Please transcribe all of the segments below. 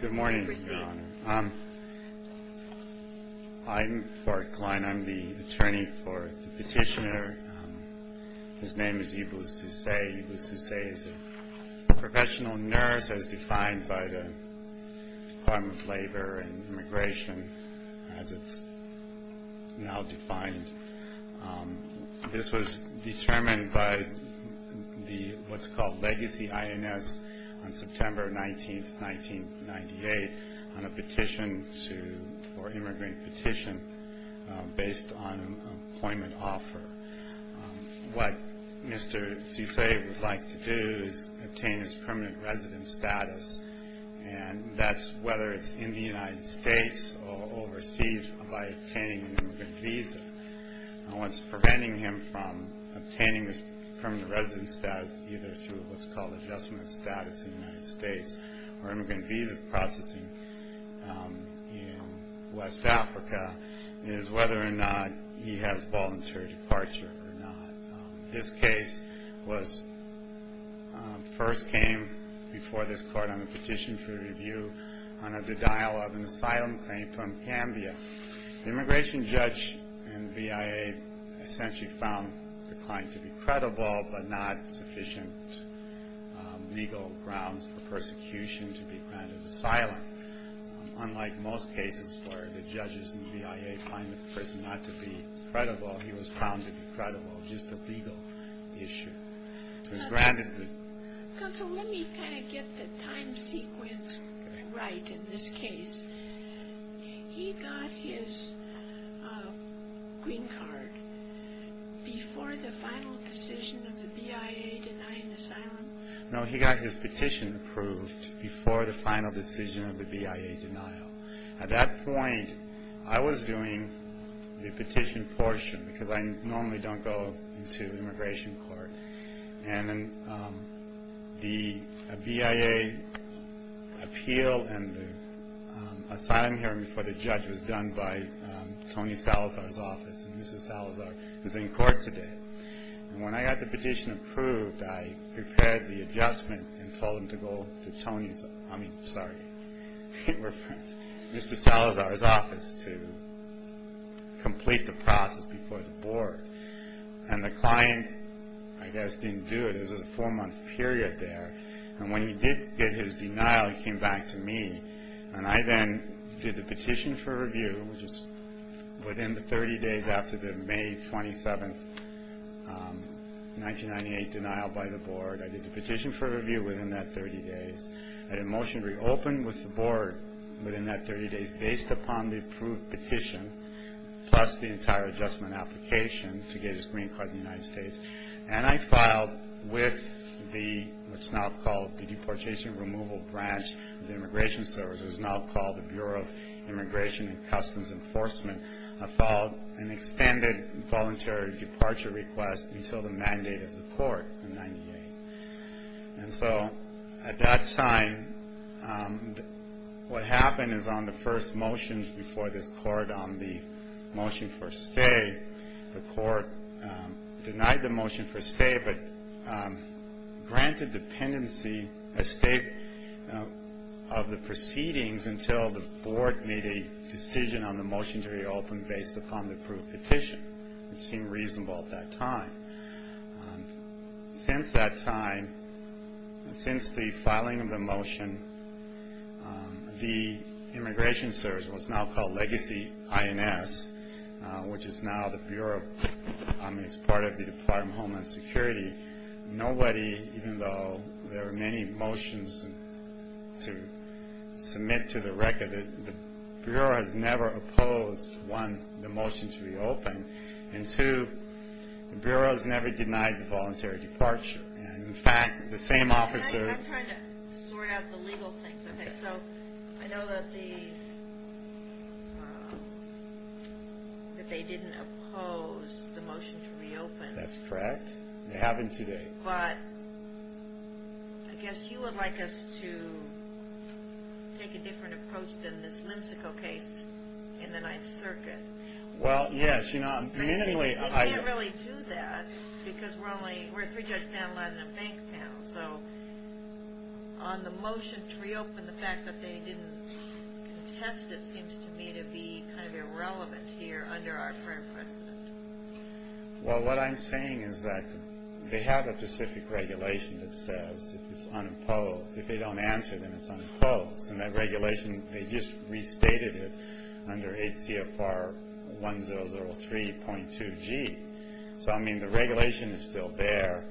Good morning, Your Honor. I'm Bart Kline. I'm the attorney for the petitioner. His name is Iblis Cessay. Iblis Cessay is a professional nurse, as defined by the Department of Labor and Immigration, as it's now defined. This was determined by what's called Legacy INS on September 19, 1998, on a petition for an immigrant petition based on an employment offer. What Mr. Cessay would like to do is obtain his permanent residence status, and that's whether it's in the United States or overseas by obtaining an immigrant visa. What's preventing him from obtaining this permanent residence status, either through what's called Adjustment of Status in the United States or immigrant visa processing in West Africa, is whether or not he has voluntary departure or not. This case first came before this Court on a petition for review on a denial of an asylum claim from Cambodia. The immigration judge in the BIA essentially found the client to be credible, but not sufficient legal grounds for persecution to be granted asylum. Unlike most cases where the judges in the BIA find the person not to be credible, he was found to be credible. Just a legal issue. Counsel, let me kind of get the time sequence right in this case. He got his green card before the final decision of the BIA denying asylum? No, he got his petition approved before the final decision of the BIA denial. At that point, I was doing the petition portion, because I normally don't go into immigration court. The BIA appeal and the asylum hearing before the judge was done by Tony Salazar's office, and Mr. Salazar is in court today. When I got the petition approved, I prepared the adjustment and told him to go to Mr. Salazar's office to complete the process before the board. And the client, I guess, didn't do it. It was a four-month period there. And when he did get his denial, he came back to me, and I then did the petition for review, which is within the 30 days after the May 27, 1998, denial by the board. I did the petition for review within that 30 days. I had a motion to reopen with the board within that 30 days based upon the approved petition, plus the entire adjustment application to get his green card in the United States. And I filed with what's now called the Deportation Removal Branch of the Immigration Service, which is now called the Bureau of Immigration and Customs Enforcement. I filed an extended voluntary departure request until the mandate of the court in 1998. And so at that time, what happened is on the first motions before this court on the motion for stay, the court denied the motion for stay but granted dependency a state of the proceedings until the board made a decision on the motion to reopen based upon the approved petition, which seemed reasonable at that time. Since that time, since the filing of the motion, the Immigration Service, what's now called Legacy INS, which is now the Bureau, I mean, it's part of the Department of Homeland Security. Nobody, even though there are many motions to submit to the record, the Bureau has never opposed, one, the motion to reopen, and two, the Bureau has never denied the voluntary departure. And in fact, the same officer... I'm trying to sort out the legal things. Okay. So I know that the... that they didn't oppose the motion to reopen. That's correct. It happened today. But I guess you would like us to take a different approach than this Limsical case in the Ninth Circuit. Well, yes. You know, I'm... We can't really do that because we're only... we're a three-judge panel and a bank panel. So on the motion to reopen, the fact that they didn't contest it seems to me to be kind of irrelevant here under our current precedent. Well, what I'm saying is that they have a specific regulation that says it's unopposed. If they don't answer them, it's unopposed. And that regulation, they just restated it under HCFR 1003.2G. So, I mean, the regulation is still there,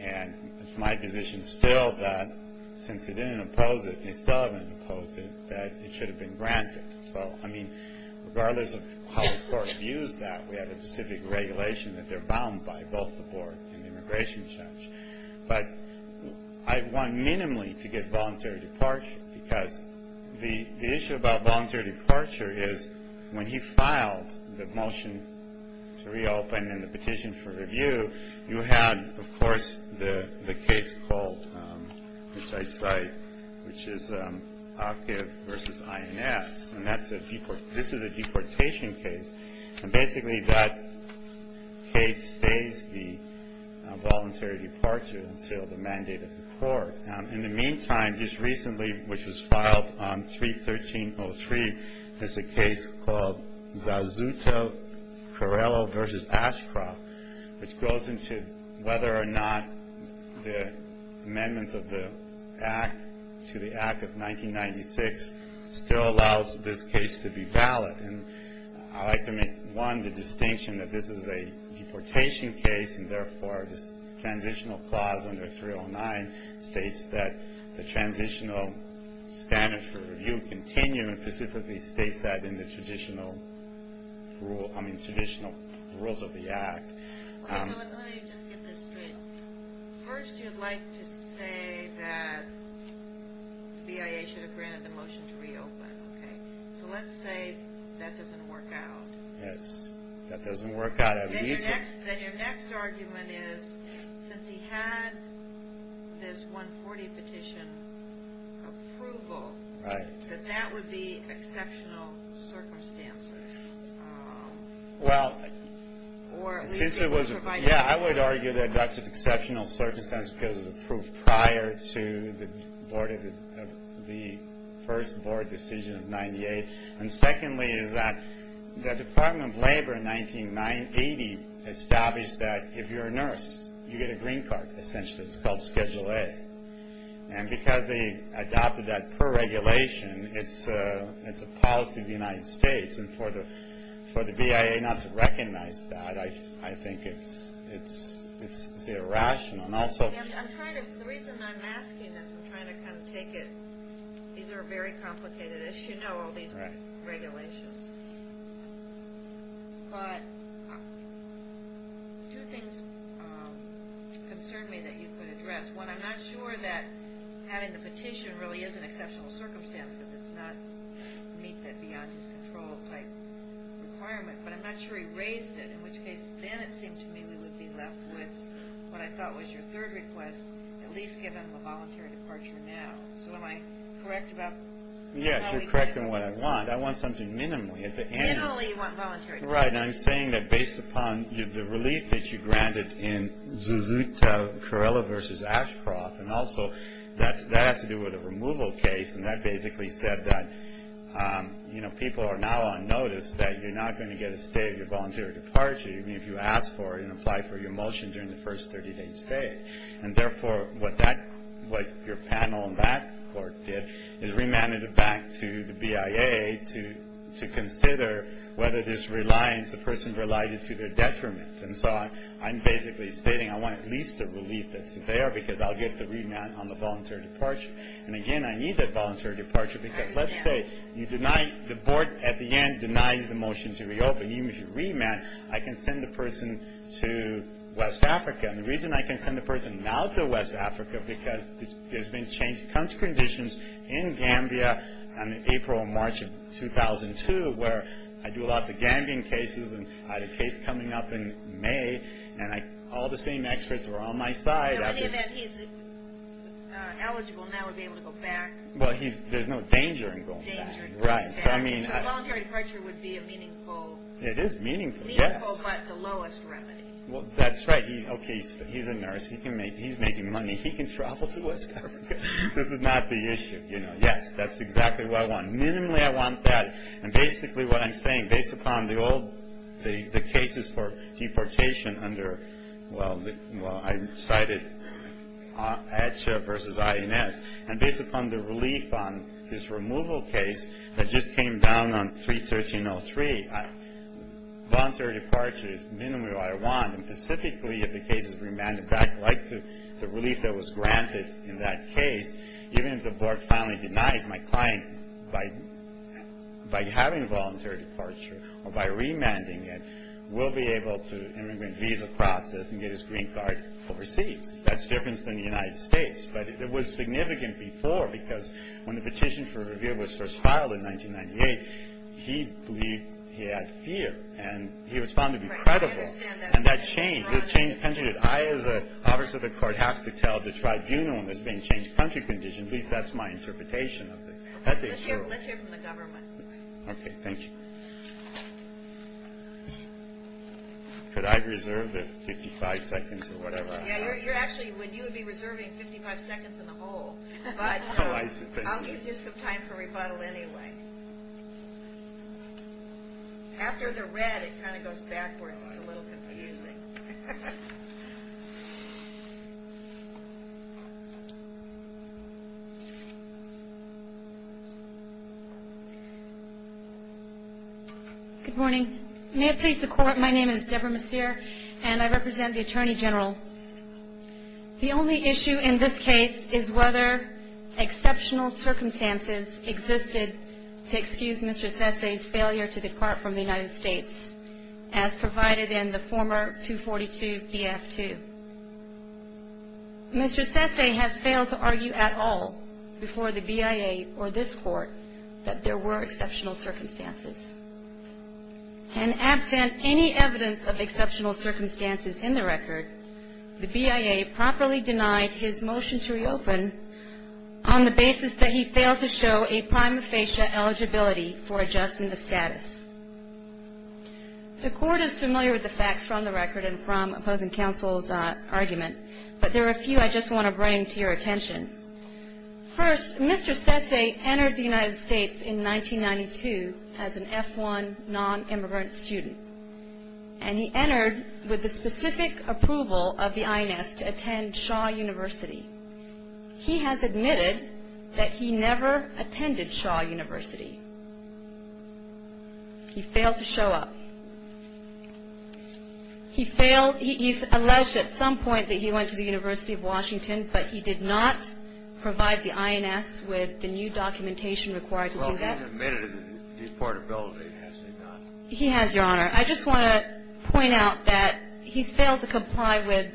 and it's my position still that since they didn't oppose it, and they still haven't opposed it, that it should have been granted. So, I mean, regardless of how the court views that, we have a specific regulation that they're bound by, both the board and the immigration judge. But I want minimally to get voluntary departure because the issue about voluntary departure is when he filed the motion to reopen and the petition for review, you had, of course, the case called, which I cite, which is Akiv v. INS. And this is a deportation case. And basically that case stays the voluntary departure until the mandate of the court. In the meantime, just recently, which was filed on 313.03, there's a case called Zazzuto-Carrello v. Ashcroft, which goes into whether or not the amendments of the Act to the Act of 1996 still allows this case to be valid. I'd like to make, one, the distinction that this is a deportation case, and therefore this transitional clause under 309 states that the transitional standards for review continue, and specifically states that in the traditional rules of the Act. Let me just get this straight. First, you'd like to say that BIA should have granted the motion to reopen. So let's say that doesn't work out. Yes, that doesn't work out. Then your next argument is, since he had this 140 petition approval, that that would be exceptional circumstances. Well, since it was, yeah, I would argue that that's an exceptional circumstance because of the proof prior to the first board decision of 98. And secondly is that the Department of Labor in 1980 established that if you're a nurse, you get a green card, essentially. It's called Schedule A. And because they adopted that per regulation, it's a policy of the United States. And for the BIA not to recognize that, I think it's irrational. The reason I'm asking this, I'm trying to kind of take it. These are very complicated issues, all these regulations. But two things concern me that you could address. One, I'm not sure that having the petition really is an exceptional circumstance because it's not meet that beyond-his-control type requirement. But I'm not sure he raised it, in which case then it seemed to me we would be left with what I thought was your third request, at least given the voluntary departure now. So am I correct about that? Yes, you're correct in what I want. I want something minimally at the end. Minimally you want voluntary departure. Right. And I'm saying that based upon the relief that you granted in Zuzuta, Corella v. Ashcroft, and also that has to do with a removal case, and that basically said that people are now on notice that you're not going to get a stay of your voluntary departure even if you ask for it and apply for your motion during the first 30-day stay. And therefore what your panel in that court did is remanded it back to the BIA to consider whether this reliance, the person's reliance is to their detriment. And so I'm basically stating I want at least a relief that's there because I'll get the remand on the voluntary departure. And, again, I need that voluntary departure because, let's say, you deny-the board at the end denies the motion to reopen. Even if you remand, I can send the person to West Africa. And the reason I can send the person now to West Africa because there's been change. It comes to conditions in Gambia on April and March of 2002 where I do lots of Gambian cases and I had a case coming up in May, and all the same experts were on my side. In any event, he's eligible now to be able to go back. Well, there's no danger in going back. So voluntary departure would be a meaningful- It is meaningful, yes. Meaningful but the lowest remedy. Well, that's right. Okay, he's a nurse. He's making money. He can travel to West Africa. This is not the issue. Yes, that's exactly what I want. Minimally I want that. And basically what I'm saying, based upon the old-the cases for deportation under-well, I cited ACHA versus INS. And based upon the relief on his removal case that just came down on 3-1303, voluntary departure is minimally what I want. And specifically if the case is remanded back, like the relief that was granted in that case, even if the board finally denies my client by having voluntary departure or by remanding it, we'll be able to immigrant visa process and get his green card overseas. That's different than the United States. But it was significant before because when the petition for review was first filed in 1998, he believed he had fear, and he was found to be credible. And that changed. I, as an officer of the court, have to tell the tribunal in this being changed country condition. At least that's my interpretation of it. Let's hear from the government. Okay. Thank you. Could I reserve the 55 seconds or whatever I have? Actually, you would be reserving 55 seconds in the hole. But I'll give you some time for rebuttal anyway. After the red, it kind of goes backwards. It's a little confusing. Good morning. May it please the court, my name is Debra Messier, and I represent the Attorney General. The only issue in this case is whether exceptional circumstances existed to excuse Mr. Sesay's failure to depart from the United States, as provided in the former 242-BF2. Mr. Sesay has failed to argue at all before the BIA or this court that there were exceptional circumstances. And absent any evidence of exceptional circumstances in the record, the BIA properly denied his motion to reopen on the basis that he failed to show a prima facie eligibility for adjustment of status. The court is familiar with the facts from the record and from opposing counsel's argument, but there are a few I just want to bring to your attention. First, Mr. Sesay entered the United States in 1992 as an F-1 non-immigrant student, and he entered with the specific approval of the INS to attend Shaw University. He has admitted that he never attended Shaw University. He failed to show up. He failed. He's alleged at some point that he went to the University of Washington, but he did not provide the INS with the new documentation required to do that. Well, he's admitted to deportability, has he not? He has, Your Honor. I just want to point out that he's failed to comply with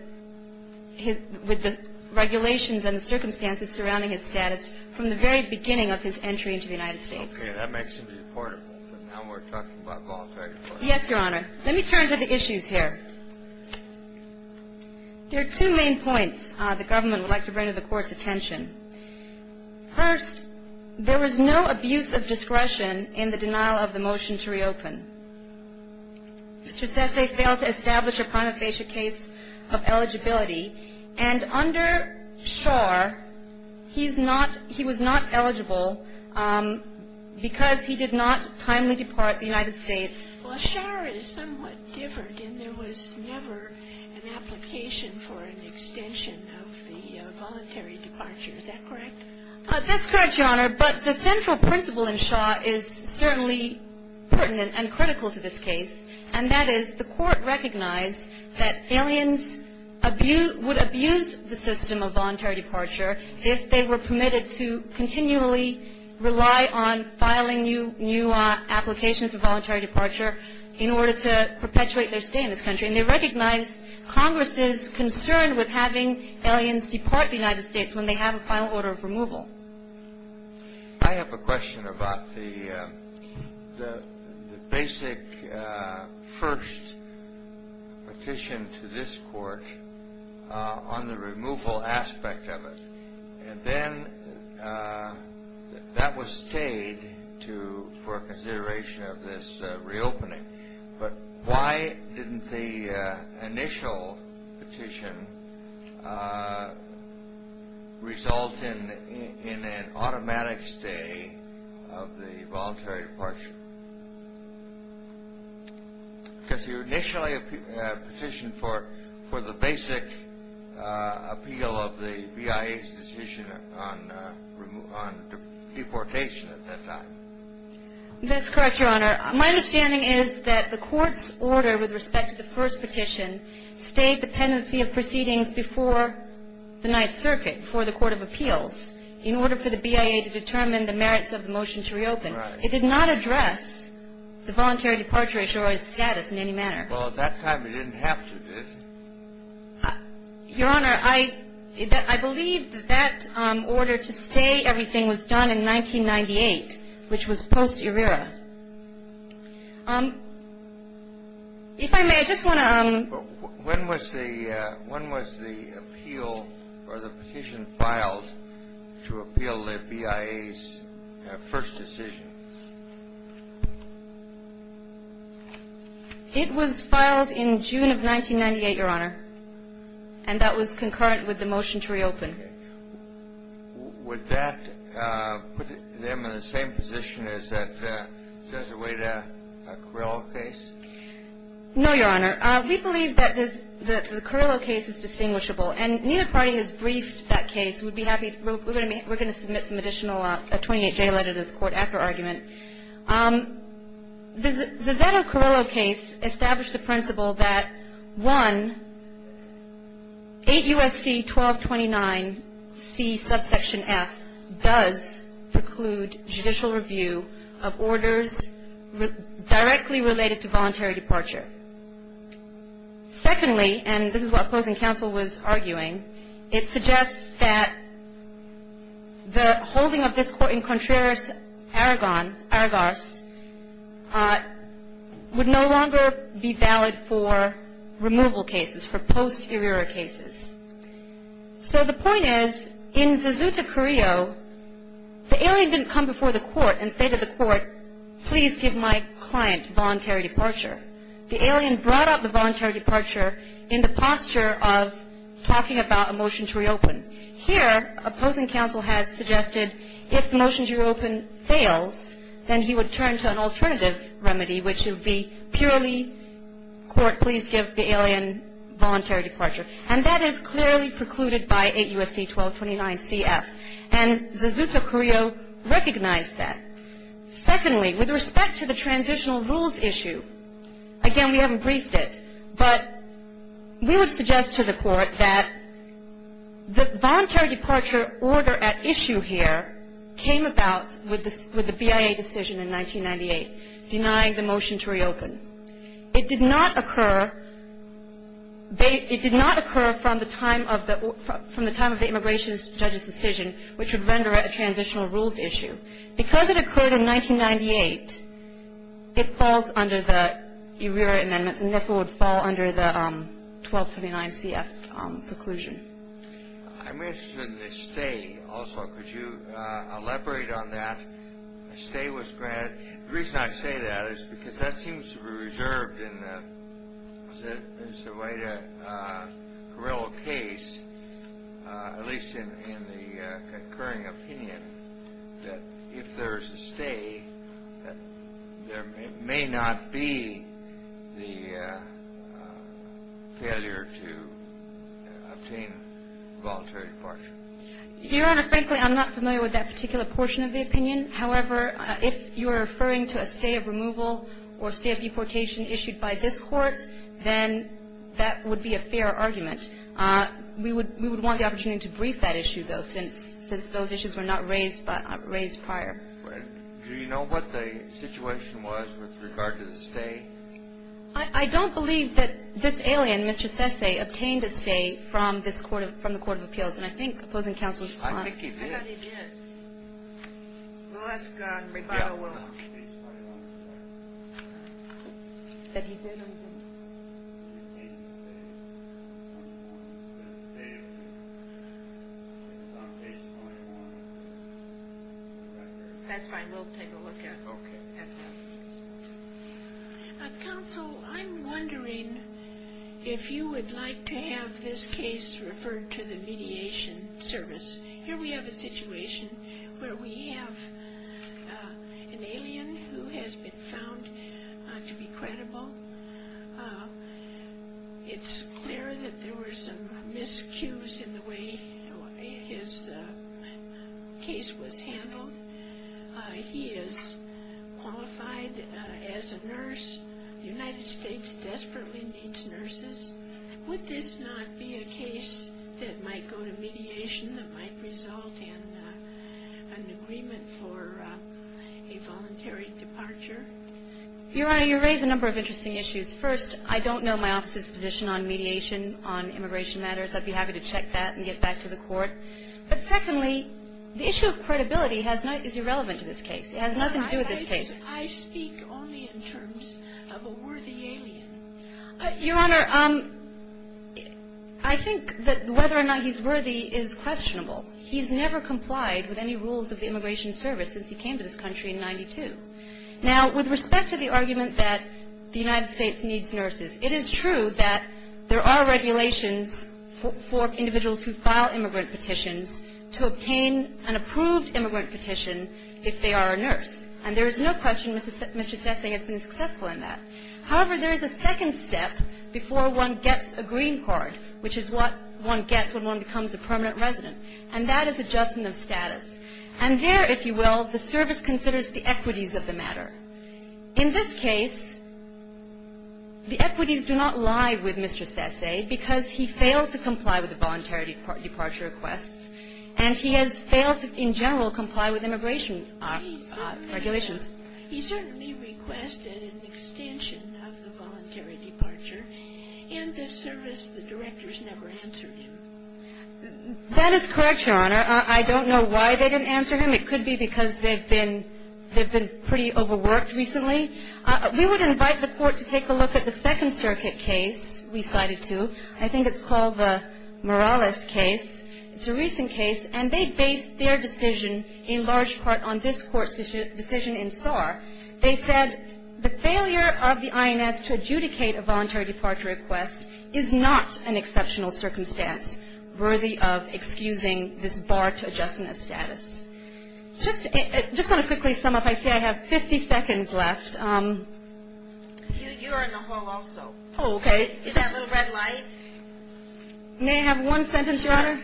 the regulations and the circumstances surrounding his status from the very beginning of his entry into the United States. Okay, that makes him deportable, but now we're talking about voluntary deportation. Yes, Your Honor. Let me turn to the issues here. There are two main points the government would like to bring to the Court's attention. First, there was no abuse of discretion in the denial of the motion to reopen. Mr. Sesay failed to establish a ponyphagia case of eligibility, and under Shaw he was not eligible because he did not timely depart the United States. Well, Shaw is somewhat different, and there was never an application for an extension of the voluntary departure. Is that correct? That's correct, Your Honor. But the central principle in Shaw is certainly pertinent and critical to this case, and that is the Court recognized that aliens would abuse the system of voluntary departure if they were permitted to continually rely on filing new applications for voluntary departure in order to perpetuate their stay in this country, and they recognized Congress's concern with having aliens depart the United States when they have a final order of removal. I have a question about the basic first petition to this Court on the removal aspect of it, and then that was stayed for consideration of this reopening, but why didn't the initial petition result in an automatic stay of the voluntary departure? Because you initially petitioned for the basic appeal of the BIA's decision on deportation at that time. That's correct, Your Honor. My understanding is that the Court's order with respect to the first petition stayed the pendency of proceedings before the Ninth Circuit, before the Court of Appeals, in order for the BIA to determine the merits of the motion to reopen. Right. It did not address the voluntary departure issuer's status in any manner. Well, at that time it didn't have to, did it? Your Honor, I believe that that order to stay everything was done in 1998, which was post-ERIRA. If I may, I just want to... When was the appeal or the petition filed to appeal the BIA's first decision? It was filed in June of 1998, Your Honor, and that was concurrent with the motion to reopen. Okay. Would that put them in the same position as that Zezueta Carrillo case? No, Your Honor. We believe that the Carrillo case is distinguishable, and neither party has briefed that case. We're going to submit some additional 28-J letter to the Court after argument. The Zezueta Carrillo case established the principle that, one, 8 U.S.C. 1229C subsection F does preclude judicial review of orders directly related to voluntary departure. Secondly, and this is what opposing counsel was arguing, it suggests that the holding of this court in Contreras, Aragon, Aragarse, would no longer be valid for removal cases, for post-ERIRA cases. So the point is, in Zezueta Carrillo, the alien didn't come before the Court and say to the Court, please give my client voluntary departure. The alien brought up the voluntary departure in the posture of talking about a motion to reopen. Here, opposing counsel has suggested if the motion to reopen fails, then he would turn to an alternative remedy, which would be purely, Court, please give the alien voluntary departure. And that is clearly precluded by 8 U.S.C. 1229CF, and Zezueta Carrillo recognized that. Secondly, with respect to the transitional rules issue, again, we haven't briefed it, but we would suggest to the Court that the voluntary departure order at issue here came about with the BIA decision in 1998, denying the motion to reopen. It did not occur from the time of the immigration judge's decision, which would render it a transitional rules issue. Because it occurred in 1998, it falls under the ERIRA amendments and therefore would fall under the 1229CF preclusion. I'm interested in the stay also. Could you elaborate on that? The stay was granted. The reason I say that is because that seems to be reserved in the Zezueta Carrillo case, at least in the concurring opinion that if there is a stay, that there may not be the failure to obtain voluntary departure. Your Honor, frankly, I'm not familiar with that particular portion of the opinion. However, if you are referring to a stay of removal or stay of deportation issued by this Court, then that would be a fair argument. We would want the opportunity to brief that issue, though, since those issues were not raised prior. Do you know what the situation was with regard to the stay? I don't believe that this alien, Mr. Sessay, obtained a stay from the Court of Appeals. And I think opposing counsel is fine. I think he did. I thought he did. Well, that's gone. That's fine. We'll take a look at that. Counsel, I'm wondering if you would like to have this case referred to the Mediation Service. Here we have a situation where we have an alien who has been found to be credible. It's clear that there were some miscues in the way his case was handled. He is qualified as a nurse. The United States desperately needs nurses. Would this not be a case that might go to mediation that might result in an agreement for a voluntary departure? Your Honor, you raise a number of interesting issues. First, I don't know my office's position on mediation on immigration matters. I'd be happy to check that and get back to the Court. But secondly, the issue of credibility is irrelevant to this case. It has nothing to do with this case. I speak only in terms of a worthy alien. Your Honor, I think that whether or not he's worthy is questionable. He's never complied with any rules of the Immigration Service since he came to this country in 1992. Now, with respect to the argument that the United States needs nurses, it is true that there are regulations for individuals who file immigrant petitions to obtain an approved immigrant petition if they are a nurse. And there is no question Mr. Sessing has been successful in that. However, there is a second step before one gets a green card, which is what one gets when one becomes a permanent resident, and that is adjustment of status. And there, if you will, the service considers the equities of the matter. In this case, the equities do not lie with Mr. Sessing because he failed to comply with the voluntary departure requests, and he has failed to, in general, comply with immigration regulations. He certainly requested an extension of the voluntary departure. In this service, the directors never answered him. That is correct, Your Honor. I don't know why they didn't answer him. It could be because they've been pretty overworked recently. We would invite the Court to take a look at the Second Circuit case we cited to. I think it's called the Morales case. It's a recent case, and they based their decision in large part on this Court's decision in Saar. They said the failure of the INS to adjudicate a voluntary departure request is not an exceptional circumstance worthy of excusing this bar to adjustment of status. Just to quickly sum up, I say I have 50 seconds left. You are in the hall also. Oh, okay. Is that little red light? May I have one sentence, Your Honor?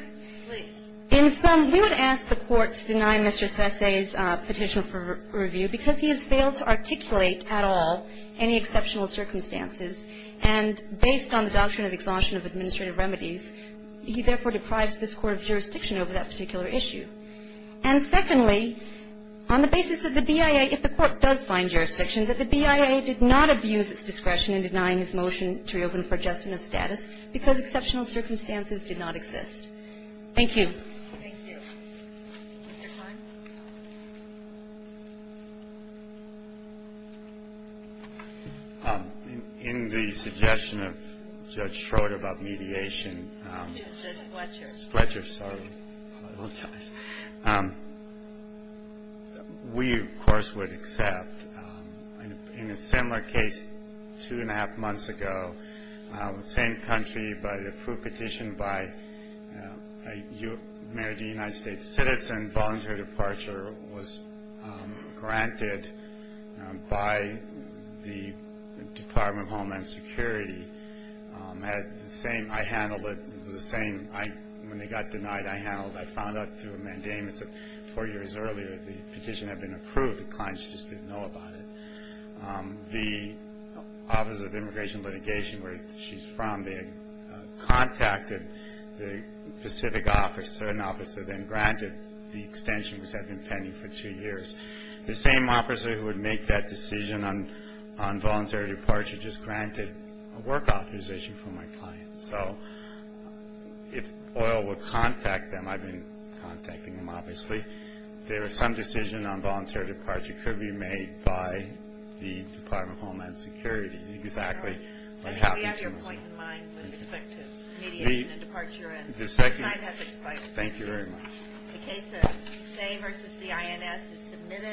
Please. In sum, we would ask the Court to deny Mr. Sesay's petition for review because he has failed to articulate at all any exceptional circumstances, and based on the doctrine of exhaustion of administrative remedies, he therefore deprives this Court of jurisdiction over that particular issue. And secondly, on the basis that the BIA, if the Court does find jurisdiction, that the BIA did not abuse its discretion in denying his motion to reopen for adjustment of status because exceptional circumstances did not exist. Thank you. Thank you. In the suggestion of Judge Schroeder about mediation, we, of course, would accept that in a similar case two and a half months ago, the same country, but approved petition by a mayor of the United States, citizen voluntary departure was granted by the Department of Homeland Security. I handled it. When they got denied, I handled it. I found out through a mandamus four years earlier the petition had been approved. The client just didn't know about it. The Office of Immigration Litigation, where she's from, they contacted the specific officer and the officer then granted the extension, which had been pending for two years. The same officer who would make that decision on voluntary departure just granted a work authorization for my client. So if OIL would contact them, I've been contacting them, obviously. And there was some decision on voluntary departure that could be made by the Department of Homeland Security. Exactly. We have your point in mind with respect to mediation and departure. Thank you very much. The case of Say versus the INS is submitted.